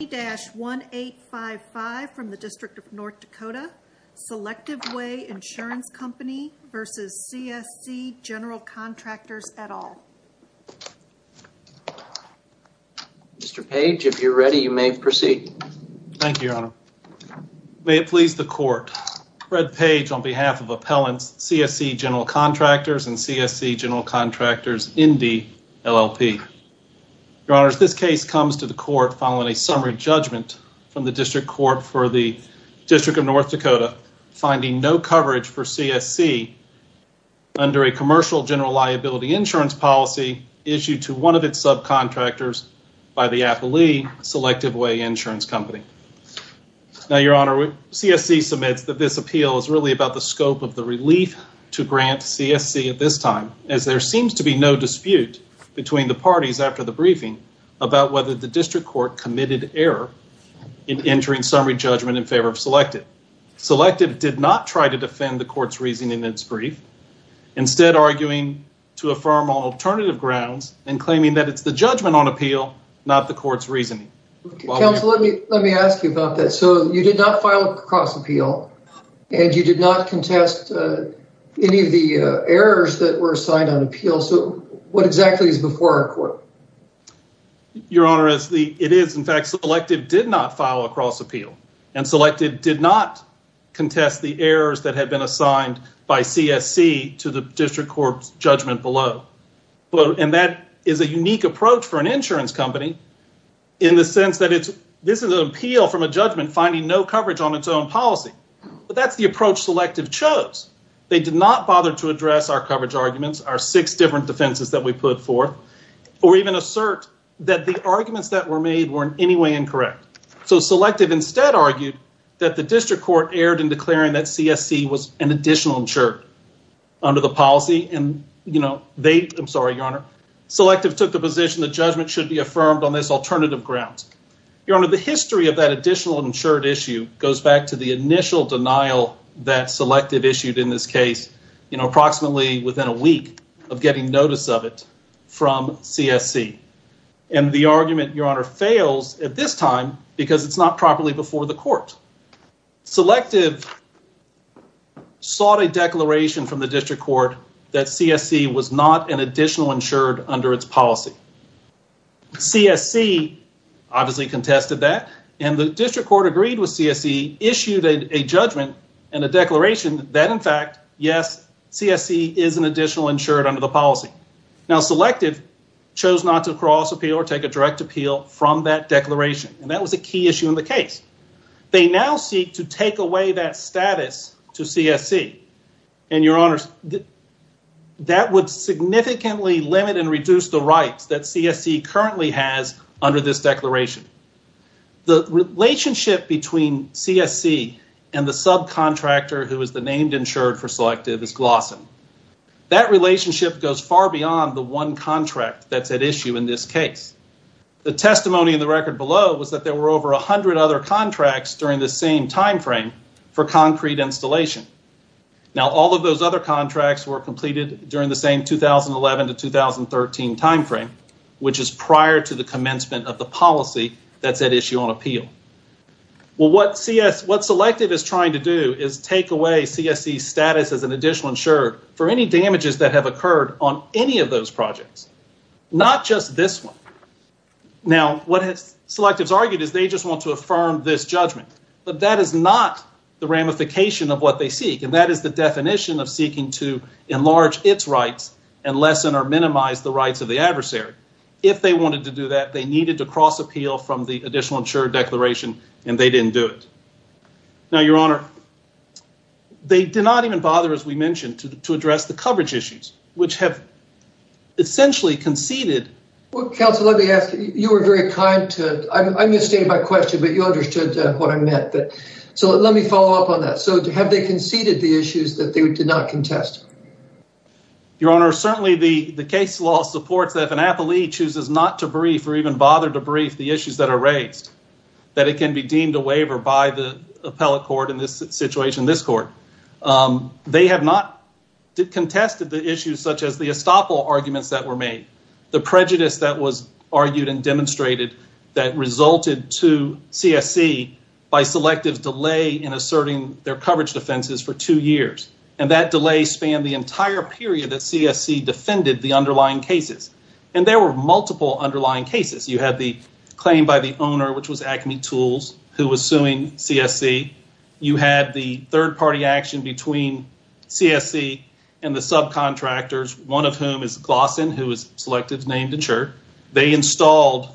1855 from the District of North Dakota. Selective Way Insurance Company v. CSC General Contractors, et al. Mr. Page, if you're ready, you may proceed. Thank you, Your Honor. May it please the Court, Fred Page on behalf of Appellants, CSC General Contractors, and CSC General Contractors, Indy, LLP. Your Honors, this case comes to a summary judgment from the District Court for the District of North Dakota finding no coverage for CSC under a commercial general liability insurance policy issued to one of its subcontractors by the Appellee Selective Way Insurance Company. Now, Your Honor, CSC submits that this appeal is really about the scope of the relief to grant CSC at this time, as there seems to be no dispute between the parties after the briefing about whether the error in entering summary judgment in favor of Selective. Selective did not try to defend the Court's reasoning in its brief, instead arguing to affirm on alternative grounds and claiming that it's the judgment on appeal, not the Court's reasoning. Counsel, let me ask you about that. So, you did not file a cross appeal, and you did not contest any of the errors that were assigned by CSC to the District Court's judgment below, and that is a unique approach for an insurance company in the sense that this is an appeal from a judgment finding no coverage on its own policy, but that's the approach Selective chose. They did not bother to address our coverage arguments, our six different defenses that we put forth, or even assert that the arguments that were made were in any way incorrect. So, Selective instead argued that the District Court erred in declaring that CSC was an additional insured under the policy, and, you know, they, I'm sorry, Your Honor, Selective took the position that judgment should be affirmed on this alternative ground. Your Honor, the history of that additional insured issue goes back to the initial denial that Selective issued in this case, you know, approximately within a week of getting notice of it from CSC, and the argument, Your Honor, fails at this time because it's not properly before the court. Selective sought a declaration from the District Court that CSC was not an additional insured under its policy. CSC obviously contested that, and the District Court agreed with CSC, issued a judgment and a declaration that, in fact, yes, CSC is an additional insured under the policy. Now, Selective chose not to cross appeal or take a direct appeal from that declaration, and that was a key issue in the case. They now seek to take away that status to CSC, and, Your Honor, that would significantly limit and reduce the rights that CSC currently has under this declaration. The relationship between CSC and the subcontractor who is the named insured for Selective is Glossen. That relationship goes far beyond the one contract that's at issue in this case. The testimony in the record below was that there were over a hundred other contracts during the same time frame for concrete installation. Now, all of those other contracts were completed during the same 2011 to 2013 time frame, which is prior to the commencement of the policy that's at issue on appeal. Well, what Selective is trying to do is take away CSC's status as an additional insured for any damages that have occurred on any of those projects, not just this one. Now, what Selectives argued is they just want to affirm this judgment, but that is not the ramification of what they seek, and that is the definition of seeking to enlarge its rights and lessen or minimize the rights of the adversary. If they wanted to do that, they needed to cross appeal from the additional insured declaration, and they didn't do it. Now, Your Honor, they did not even bother, as we mentioned, to address the coverage issues, which have essentially conceded... Well, counsel, let me ask you. You were very kind to... I misstated my question, but you understood what I meant. So, let me follow up on that. So, have they conceded the issues that they did not contest? Your Honor, certainly the case law supports that if an appellee chooses not to brief or even bother to brief the issues that are raised, that it can be wavered by the appellate court in this situation, this court. They have not contested the issues such as the estoppel arguments that were made, the prejudice that was argued and demonstrated that resulted to CSC by Selectives' delay in asserting their coverage defenses for two years, and that delay spanned the entire period that CSC defended the underlying cases, and there were CSC. You had the third-party action between CSC and the subcontractors, one of whom is Glossin, who was Selectives' named insurer. They installed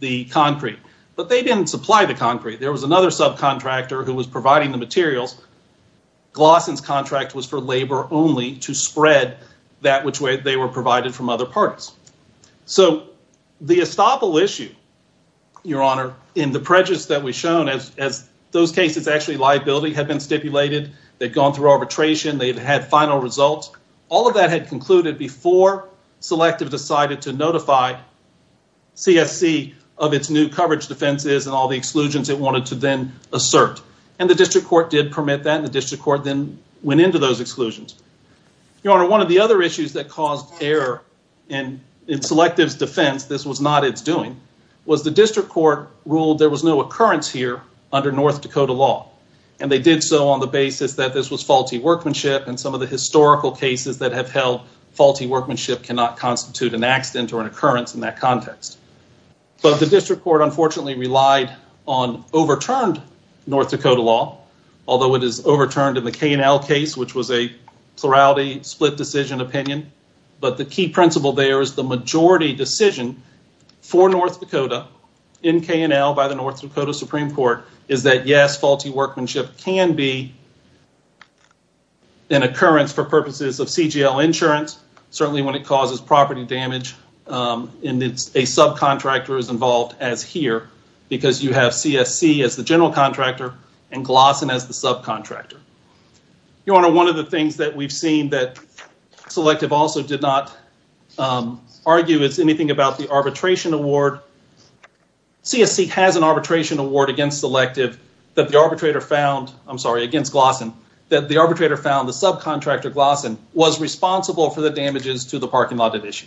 the concrete, but they didn't supply the concrete. There was another subcontractor who was providing the materials. Glossin's contract was for labor only to spread that which way they were provided from other parties. So, the estoppel issue, Your Honor, in the prejudice that we've shown as those cases actually liability had been stipulated, they've gone through arbitration, they've had final results, all of that had concluded before Selective decided to notify CSC of its new coverage defenses and all the exclusions it wanted to then assert, and the district court did permit that, and the district court then went into those exclusions. Your Honor, one of the other issues that caused error in Selectives' defense, this was not its doing, was the district court ruled there was no occurrence here under North Dakota law, and they did so on the basis that this was faulty workmanship and some of the historical cases that have held faulty workmanship cannot constitute an accident or an occurrence in that context, but the district court unfortunately relied on overturned North Dakota law, although it is overturned in the K&L case, which was a plurality split decision opinion, but the key principle there is the majority decision for North Dakota in K&L by the North Dakota Supreme Court is that, yes, faulty workmanship can be an occurrence for purposes of CGL insurance, certainly when it causes property damage and it's a subcontractor is involved as here because you have CSC as the general contractor and Glossen as the subcontractor. Your Honor, one of the things that we've seen that Selective also did not argue is anything about the arbitration award. CSC has an arbitration award against Selective that the arbitrator found, I'm sorry, against Glossen, that the arbitrator found the subcontractor Glossen was responsible for the damages to the parking lot at issue.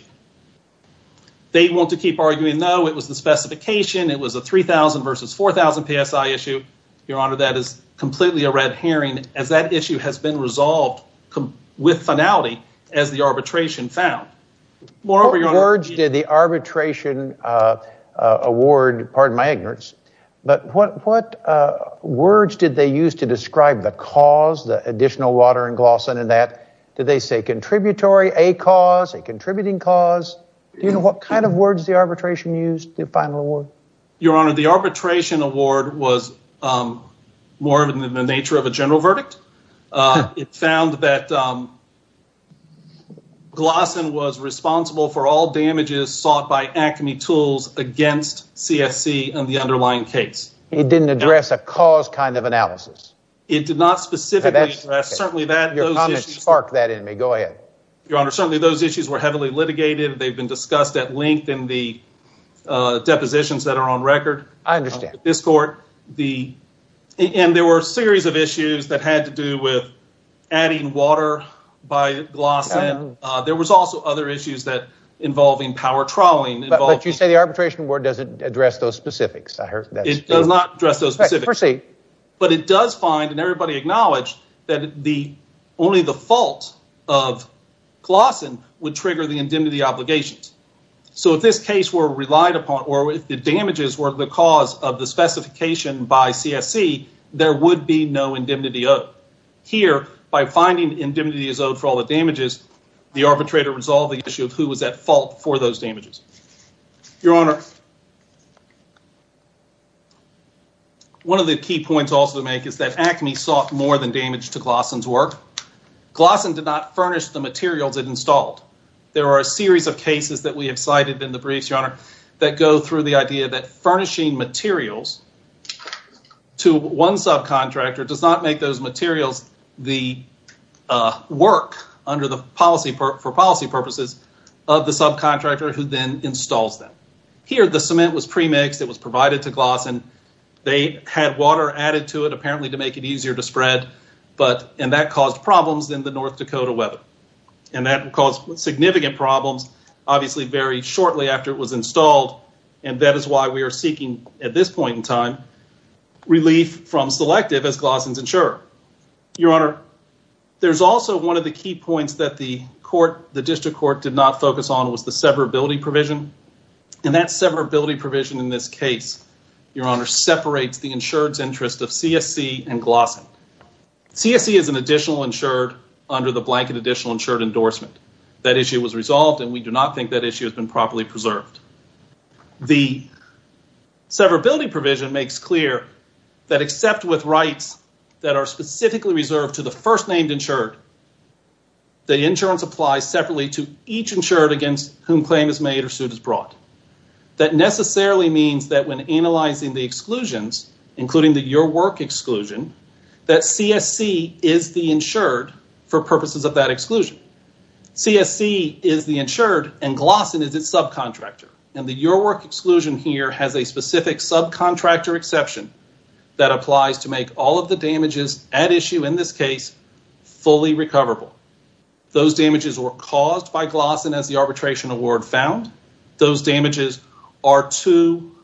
They want to keep arguing, no, it was the specification, it was a 3,000 versus 4,000 PSI issue. Your Honor, that is completely a red herring as that issue has been resolved with finality as the arbitration found. Moreover, Your Honor... What words did the arbitration award, pardon my ignorance, but what words did they use to describe the cause, the additional water in Glossen and that? Did they say contributory, a cause, a contributing cause? Do you know what kind of words the arbitration used the final award? Your Honor, the arbitration award was more than the nature of a general verdict. It found that Glossen was responsible for all damages sought by ACME tools against CSC and the underlying case. It didn't address a cause kind of analysis? It did not specifically address, certainly that... Your comments spark that in me, go ahead. Your Honor, certainly those issues were heavily litigated. They've been discussed at length in the positions that are on record. I understand. This court, and there were a series of issues that had to do with adding water by Glossen. There was also other issues that involving power trawling involved... But you say the arbitration award doesn't address those specifics. I heard that... It does not address those specifics, but it does find, and everybody acknowledged, that only the fault of Glossen would trigger the indemnity obligations. So, if this case were relied upon, or if the damages were the cause of the specification by CSC, there would be no indemnity owed. Here, by finding indemnity is owed for all the damages, the arbitrator resolved the issue of who was at fault for those damages. Your Honor, one of the key points also to make is that ACME sought more than damage to Glossen's in the briefs, Your Honor, that go through the idea that furnishing materials to one subcontractor does not make those materials the work for policy purposes of the subcontractor who then installs them. Here, the cement was premixed. It was provided to Glossen. They had water added to it, apparently to make it easier to spread, and that caused problems in the North Dakota weather. And that caused significant problems, obviously, very shortly after it was installed, and that is why we are seeking, at this point in time, relief from Selective as Glossen's insurer. Your Honor, there's also one of the key points that the court, the district court, did not focus on was the severability provision, and that severability provision in this case, Your Honor, separates the insured's interest of CSC and Glossen. CSC is an additional insured under the blanket additional insured endorsement. That issue was resolved, and we do not think that issue has been properly preserved. The severability provision makes clear that except with rights that are specifically reserved to the first named insured, the insurance applies separately to each insured against whom claim is made or suit is brought. That necessarily means that when analyzing the exclusions, including the Your Work exclusion, that CSC is the insured for purposes of that exclusion. CSC is the insured, and Glossen is its subcontractor, and the Your Work exclusion here has a specific subcontractor exception that applies to make all of the damages at issue in this case fully recoverable. Those damages were caused by Glossen as the arbitration award found. Those damages are to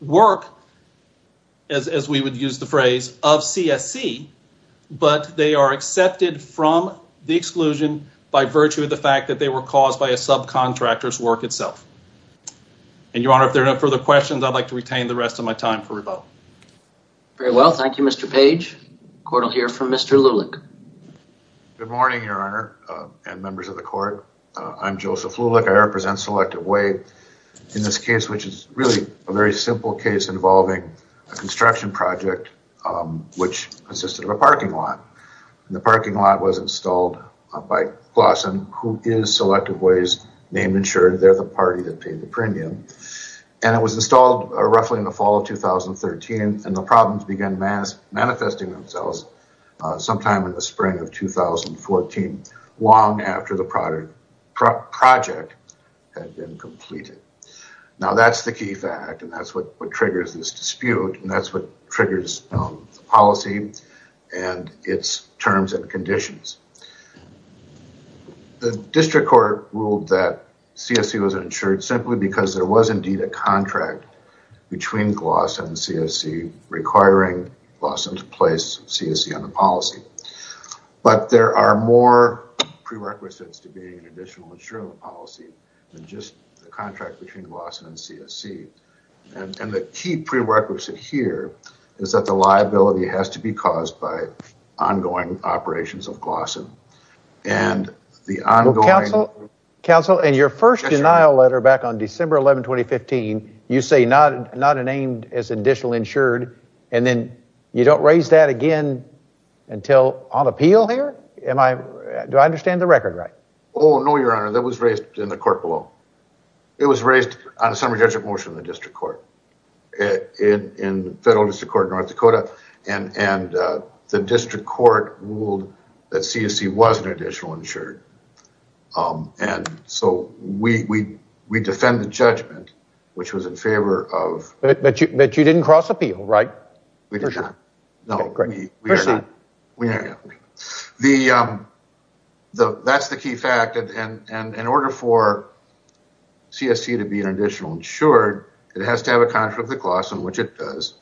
work, as we would use the phrase, of CSC, but they are accepted from the exclusion by virtue of the fact that they were caused by a subcontractor's work itself. Your Honor, if there are no further questions, I'd like to retain the rest of my time for rebuttal. Very well. Thank you, Mr. Page. The court will hear from Mr. Lulich. Good morning, Your Honor and members of the court. I'm Joseph Lulich. I represent Selective Way in this case, which is really a very simple case involving a construction project which consisted of a parking lot, and the parking lot was installed by Glossen, who is Selective Way's name insured. They're the party that paid the premium, and it was installed roughly in the fall of 2013, and the problems began manifesting themselves sometime in the spring of 2014, long after the project had been completed. Now, that's the key fact, and that's what triggers this dispute, and that's what triggers policy and its terms and conditions. The district court ruled that CSC was insured simply because there was a liability on the policy, but there are more prerequisites to being an additional insured policy than just the contract between Glossen and CSC, and the key prerequisite here is that the liability has to be caused by ongoing operations of Glossen. Counsel, in your first denial letter back on December 11, 2015, you say not named as additional insured, and then you don't raise that again until on appeal here? Do I understand the record right? Oh, no, Your Honor. That was raised in the court below. It was raised on a summary judgment motion in the district court, in the federal district court of North Dakota, and the district court ruled that CSC was an additional insured, and so we defend the judgment, which was in favor of... But you didn't cross appeal, right? We did not. That's the key fact, and in order for CSC to be an additional insured, it has to have a contract with Glossen, which it does,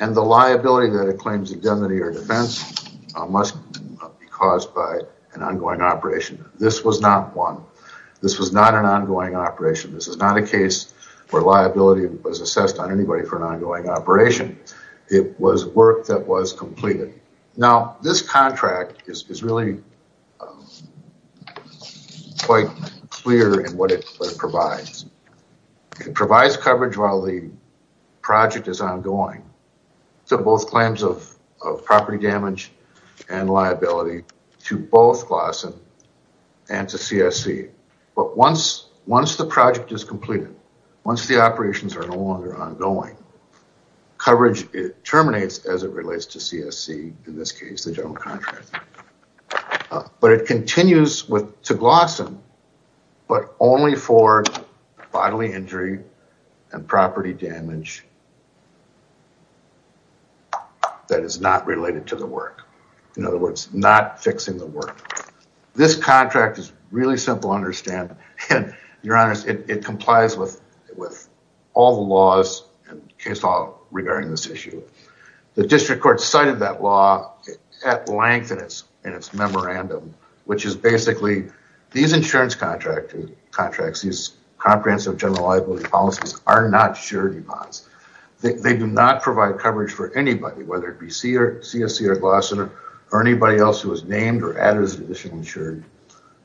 and the liability that it claims indemnity or defense must be caused by an ongoing operation. This was not one. This was not an ongoing operation. This is not a case where liability was assessed on anybody for an ongoing operation. It was work that was completed. Now, this contract is really quite clear in what it provides. It provides coverage while the project is ongoing, so both claims of property damage and liability to both Glossen and to CSC, but once the project is completed, once the operations are no longer ongoing, coverage terminates as it relates to CSC, in this case, the general contractor, but it continues to Glossen, but only for bodily injury and property damage that is not related to the work. In other words, not fixing the work. This contract is really simple to understand, and it complies with all the laws and case law regarding this issue. The district court cited that law at length in its memorandum, which is basically these insurance contracts, these comprehensive general liability policies are not surety bonds. They do not provide coverage for anybody, whether it be CSC or Glossen or anybody else who is named or added as an additional insured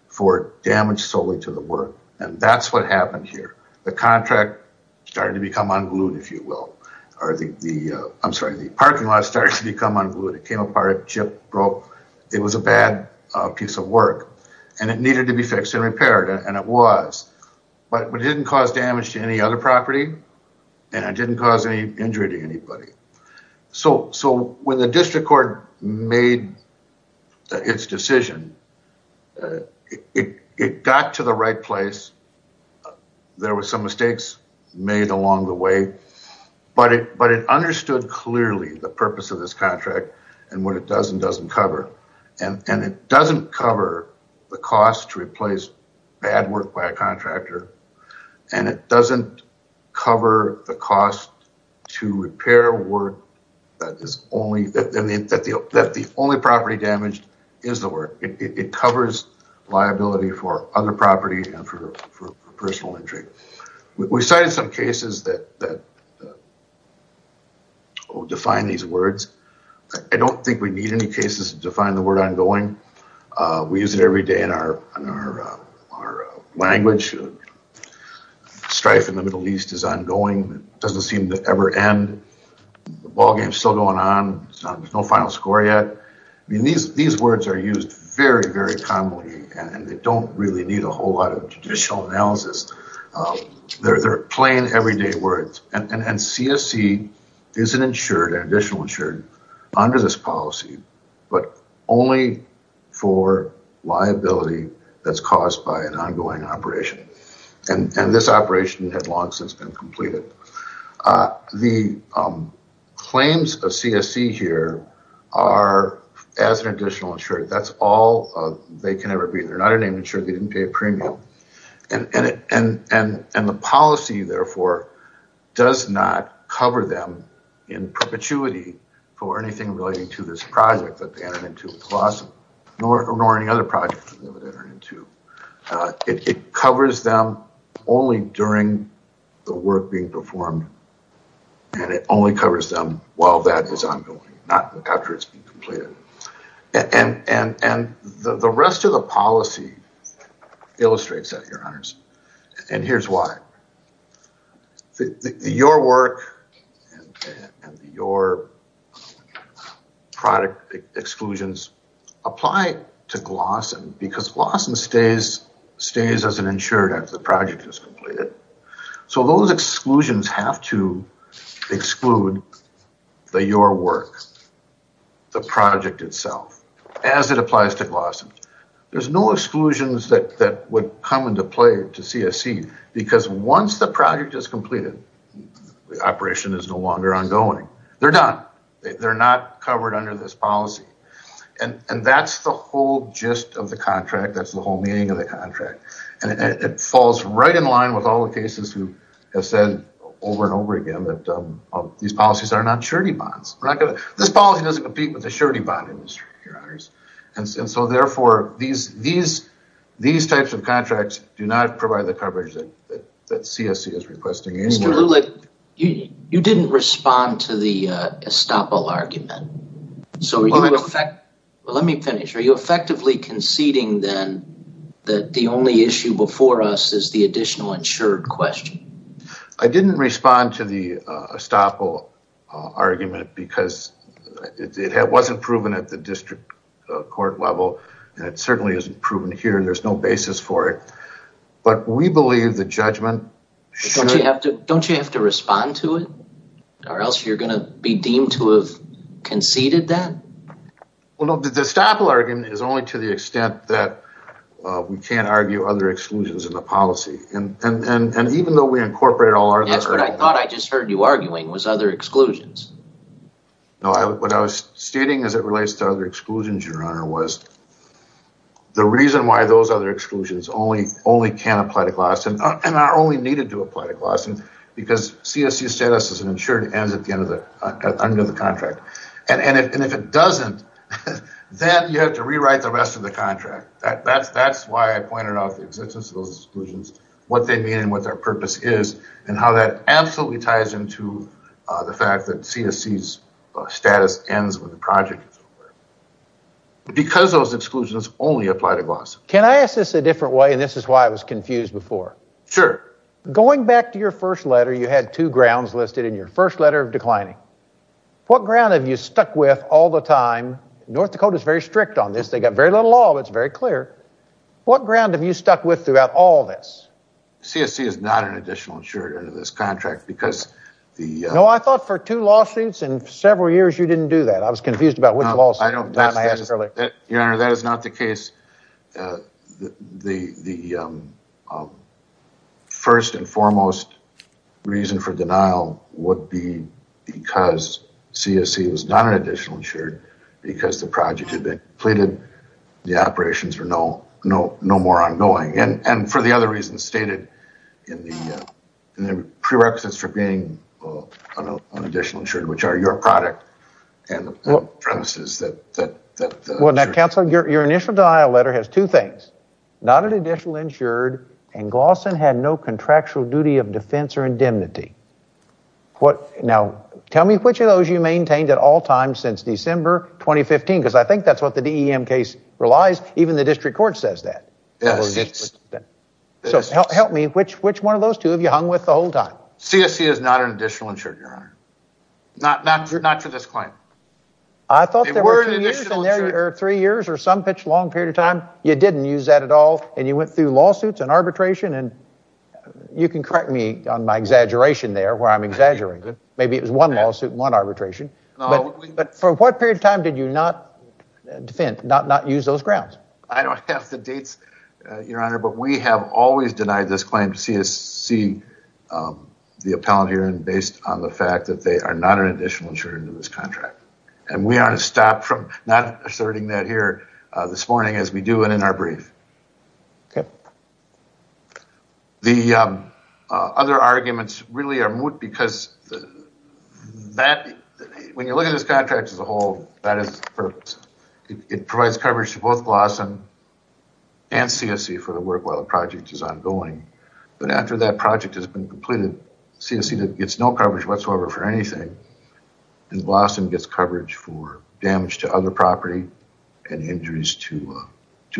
for damage solely to the work, and that's what happened here. The contract started to become unglued, if you will. I'm sorry. The parking lot started to become unglued. It came apart. The chip broke. It was a bad piece of work, and it needed to be fixed and repaired, and it was, but it didn't cause damage to any other property, and it didn't cause any injury to anybody, so when the district court made its decision, it got to the right place. There were some mistakes made along the way, but it understood clearly the purpose of this contract and what it does and doesn't cover, and it doesn't cover the cost to replace bad work by a contractor, and it doesn't cover the cost to repair work that is only, that the only property damaged is the work. It covers liability for other property and for personal injury. We cited some cases that define these words. I don't think we need any cases to define the word ongoing. We use it every day in our language. Strife in the Middle East is ongoing. It doesn't ever seem to end. The ballgame is still going on. There's no final score yet. These words are used very, very commonly, and they don't really need a whole lot of judicial analysis. They're plain, everyday words, and CSE isn't insured, additional insured under this policy, but only for liability that's caused by an ongoing operation, and this operation had long since been completed. The claims of CSE here are as an additional insurer. That's all they can ever be. They're not even insured. They didn't pay a premium, and the policy, therefore, does not cover them in perpetuity for anything relating to this project that they entered into, nor any other project. It covers them only during the work being performed, and it only covers them while that is ongoing, not after it's been completed. The rest of the policy illustrates that, Your Work and Your Product exclusions apply to GLOSSEN because GLOSSEN stays as an insurer after the project is completed, so those exclusions have to exclude the Your Work, the project itself, as it applies to GLOSSEN. There's no exclusions that would come into play to CSE because once the project is completed, the operation is no longer ongoing. They're done. They're not covered under this policy, and that's the whole gist of the contract. That's the whole meaning of the contract, and it falls right in line with all the cases who have said over and over again that these policies are not surety bonds. This policy doesn't compete with the surety bond your honors, and so therefore these types of contracts do not provide the coverage that CSE is requesting. You didn't respond to the estoppel argument, so let me finish. Are you effectively conceding then that the only issue before us is the additional insured question? I didn't respond to the estoppel argument because it wasn't proven at the district court level, and it certainly isn't proven here, and there's no basis for it, but we believe the judgment... Don't you have to respond to it, or else you're going to be deemed to have conceded that? The estoppel argument is only to the extent that we can't argue other exclusions in the policy, and even though we incorporate all our... That's what I thought I just heard you arguing, was other exclusions. What I was stating as it relates to other exclusions, your honor, was the reason why those other exclusions only can apply to Glasson, and are only needed to apply to Glasson, because CSE status as an insured ends at the end of the contract, and if it doesn't, then you have to rewrite the rest of the contract. That's why I pointed out the existence of those exclusions, what they mean, and what their purpose is, and how that absolutely ties into the fact that CSE's status ends with the project. Because those exclusions only apply to Glasson. Can I ask this a different way, and this is why I was confused before? Sure. Going back to your first letter, you had two grounds listed in your first letter of time. North Dakota's very strict on this. They've got very little law, but it's very clear. What ground have you stuck with throughout all this? CSE is not an additional insured under this contract, because the... No, I thought for two lawsuits and several years you didn't do that. I was confused about which lawsuit at the time I asked earlier. Your honor, that is not the case. The first and foremost reason for denial would be because CSE was not an additional insured, because the project had been completed, the operations were no more ongoing, and for the other reasons stated in the prerequisites for being an additional insured, which are your product and the premises that... Well, now counsel, your initial denial letter has two things. Not an additional insured, and Glasson had no contractual duty of defense or indemnity. Now, tell me which of those you maintained at all times since December 2015, because I think that's what the DEM case relies. Even the district court says that. So help me, which one of those two have you hung with the whole time? CSE is not an additional insured, your honor. Not to this point. I thought there were three years or some long period of time you didn't use that at all, and you went through lawsuits and arbitration, and you can correct me on my exaggeration there where I'm exaggerating. Maybe it was one lawsuit and one arbitration, but for what period of time did you not defend, not use those grounds? I don't have the dates, your honor, but we have always denied this claim to CSE, the appellant hearing, based on the fact that they are not an additional insured under this contract, and we are to stop from not asserting that here this morning as we do and in our brief. The other arguments really are moot because when you look at this contract as a whole, it provides coverage to both Glasson and CSE for the work while the project is ongoing, but after that project has been completed, CSE gets no coverage whatsoever for anything, and Glasson gets coverage for damage to other property and injuries to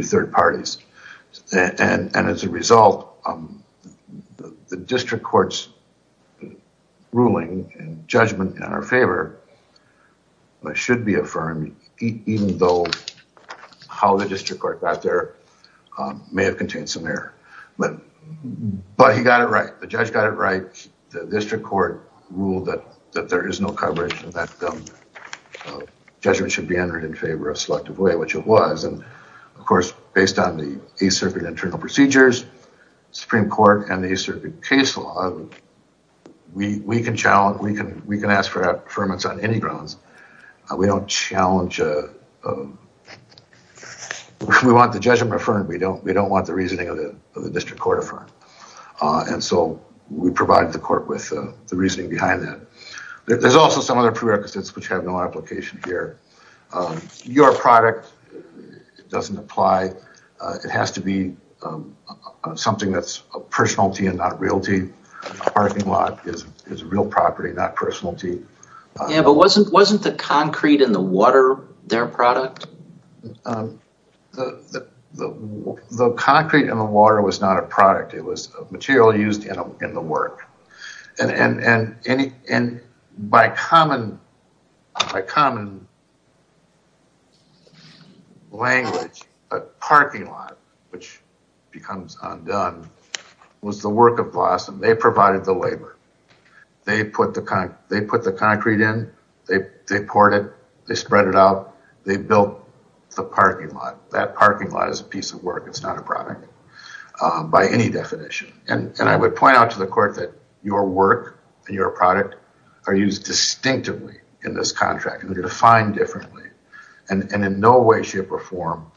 third parties, and as a result, the district court's ruling and judgment in our favor should be affirmed even though how the district court got there may have contained some error, but he got it right. The judge got it right. The district court ruled that there is no coverage and that judgment should be entered in favor of Selective Way, which it was, and of course, based on the East Circuit internal procedures, Supreme Court, and the East Circuit case law, we can ask for affirmance on any grounds. We don't challenge a... We want the judgment affirmed. We don't want the reasoning of the district court affirmed, and so we provide the court with the reasoning behind that. There's also some other prerequisites which have no application here. Your product doesn't apply. It has to be something that's a personality and not realty. A parking lot is a real property, not personality. Yeah, but wasn't the concrete and the water their product? The concrete and the water was not a product. It was a material used in the work, and by common language, a parking lot, which becomes undone, was the work of Glasson. They provided the labor. They put the concrete in. They poured it. They spread it out. They built the parking lot. That parking lot is a piece of work. It's not a product by any definition, and I would point out to the court that your work and your product are used distinctively in this contract. They're defined differently, and in no way, shape, or form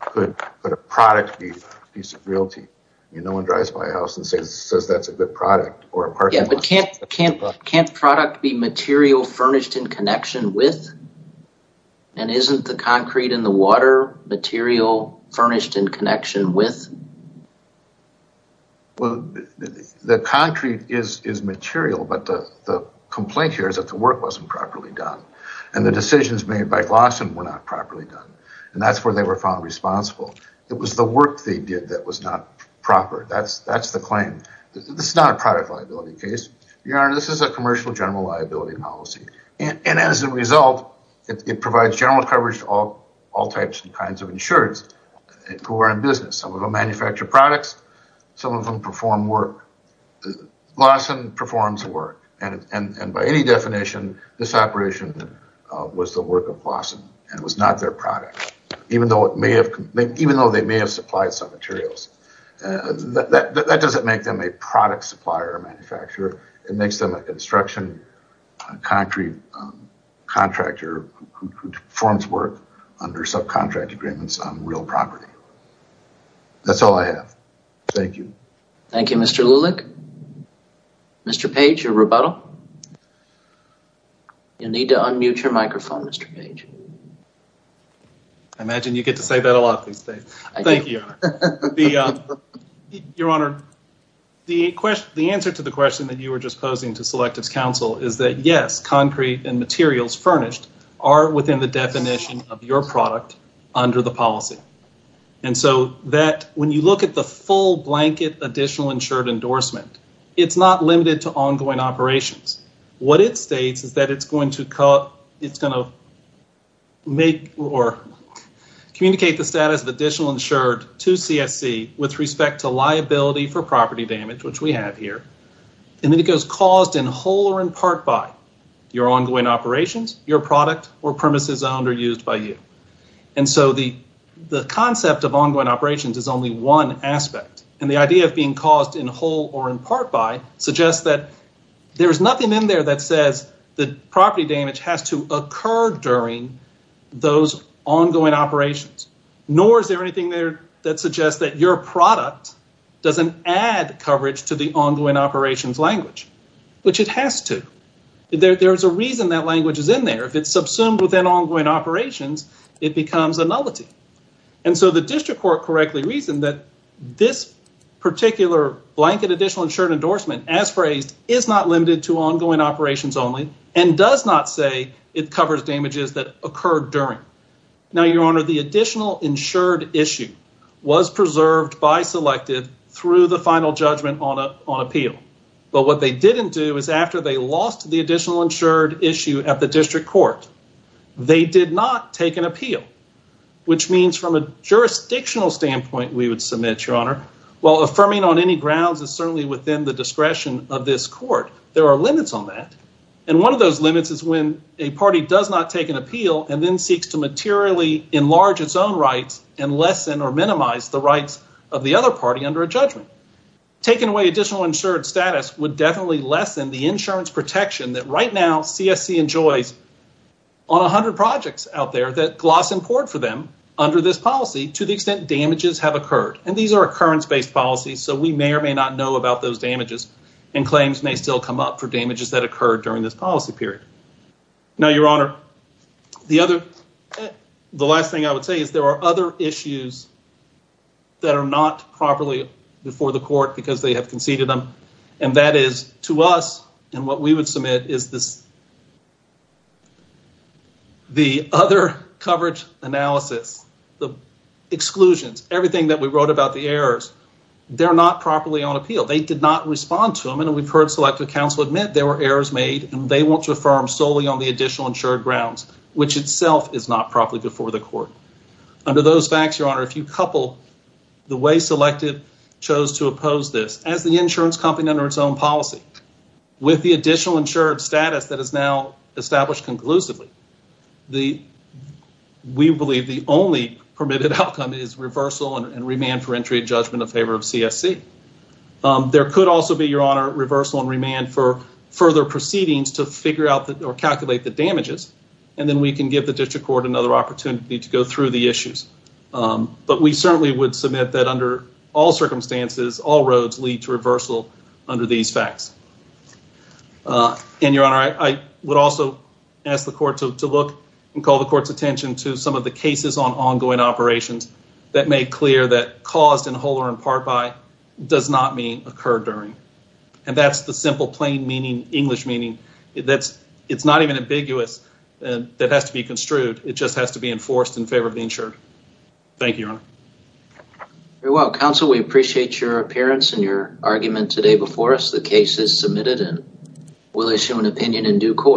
could a product be a piece of realty. No one drives by and says that's a good product or a parking lot. Yeah, but can't product be material furnished in connection with, and isn't the concrete and the water material furnished in connection with? Well, the concrete is material, but the complaint here is that the work wasn't properly done, and the decisions made by Glasson were not properly done, and that's where they were found responsible. It was the work they did that was not proper. That's the claim. This is not a product liability case. Your Honor, this is a commercial general liability policy, and as a result, it provides general coverage to all types and kinds of insureds who are in business. Some of them manufacture products. Some of them perform work. Glasson performs work, and by any definition, this operation was the work of Glasson, and it was not their product, even though they may have supplied some materials. That doesn't make them a product supplier or manufacturer. It makes them a construction concrete contractor who performs work under subcontract agreements on real property. That's all I have. Thank you. Thank you, Mr. Lulick. Mr. Page, your rebuttal. You need to unmute your microphone, Mr. Page. I imagine you get to say that a lot these days. Thank you, Your Honor. Your Honor, the answer to the question that you were just posing to Selective's counsel is that, yes, concrete and materials furnished are within the definition of your product under the policy, and so when you look at the full blanket additional insured endorsement, it's not limited to ongoing operations. What it states is that it's going to communicate the status of additional insured to CSC with respect to liability for property damage, which we have here, and then it goes caused in whole or in part by your ongoing operations, your product, or premises owned or used by you, and so the concept of ongoing operations is only one aspect, and the idea of being caused in whole or in part by suggests that there is nothing in there that says that property damage has to occur during those ongoing operations, nor is there anything there that suggests that your product doesn't add coverage to the ongoing operations language, which it has to. There is a reason that language is in there. If it's subsumed within ongoing operations, it becomes a nullity, and so the district court correctly reasoned that this particular blanket additional insured endorsement, as phrased, is not limited to ongoing operations only and does not say it covers damages that occurred during. Now, your honor, the additional insured issue was preserved by Selective through the final judgment on appeal, but what they didn't do is after they lost the additional insured issue at the district court, they did not take an appeal, which means from a jurisdictional standpoint, we would submit, your honor, while affirming on any grounds is certainly within the discretion of this court, there are limits on that, and one of those limits is when a party does not take an appeal and then seeks to materially enlarge its own rights and lessen or minimize the rights of the other party under a judgment. Taking away additional insured status would definitely lessen the insurance injuries on a hundred projects out there that gloss and poured for them under this policy to the extent damages have occurred, and these are occurrence-based policies, so we may or may not know about those damages and claims may still come up for damages that occurred during this policy period. Now, your honor, the last thing I would say is there are other issues that are not properly before the court because they have conceded them, and that is to us, and what we would submit is that the other coverage analysis, the exclusions, everything that we wrote about the errors, they're not properly on appeal. They did not respond to them, and we've heard Selective Counsel admit there were errors made, and they want to affirm solely on the additional insured grounds, which itself is not properly before the court. Under those facts, your honor, if you couple the way Selective chose to oppose this as the insurance company under its own policy with the additional insured status that is now established conclusively, we believe the only permitted outcome is reversal and remand for entry judgment in favor of CSC. There could also be, your honor, reversal and remand for further proceedings to figure out or calculate the damages, and then we can give the district court another opportunity to go through the issues, but we certainly would submit that under all circumstances, all roads lead to reversal under these facts, and your honor, I would also ask the court to look and call the court's attention to some of the cases on ongoing operations that made clear that caused in whole or in part by does not mean occurred during, and that's the simple plain meaning, English meaning. It's not even ambiguous. That has to be construed. It just has to be enforced in favor of the insured. Thank you, your honor. Very well, counsel. We appreciate your appearance and your argument today before us. The case is submitted and we'll issue an opinion in due course.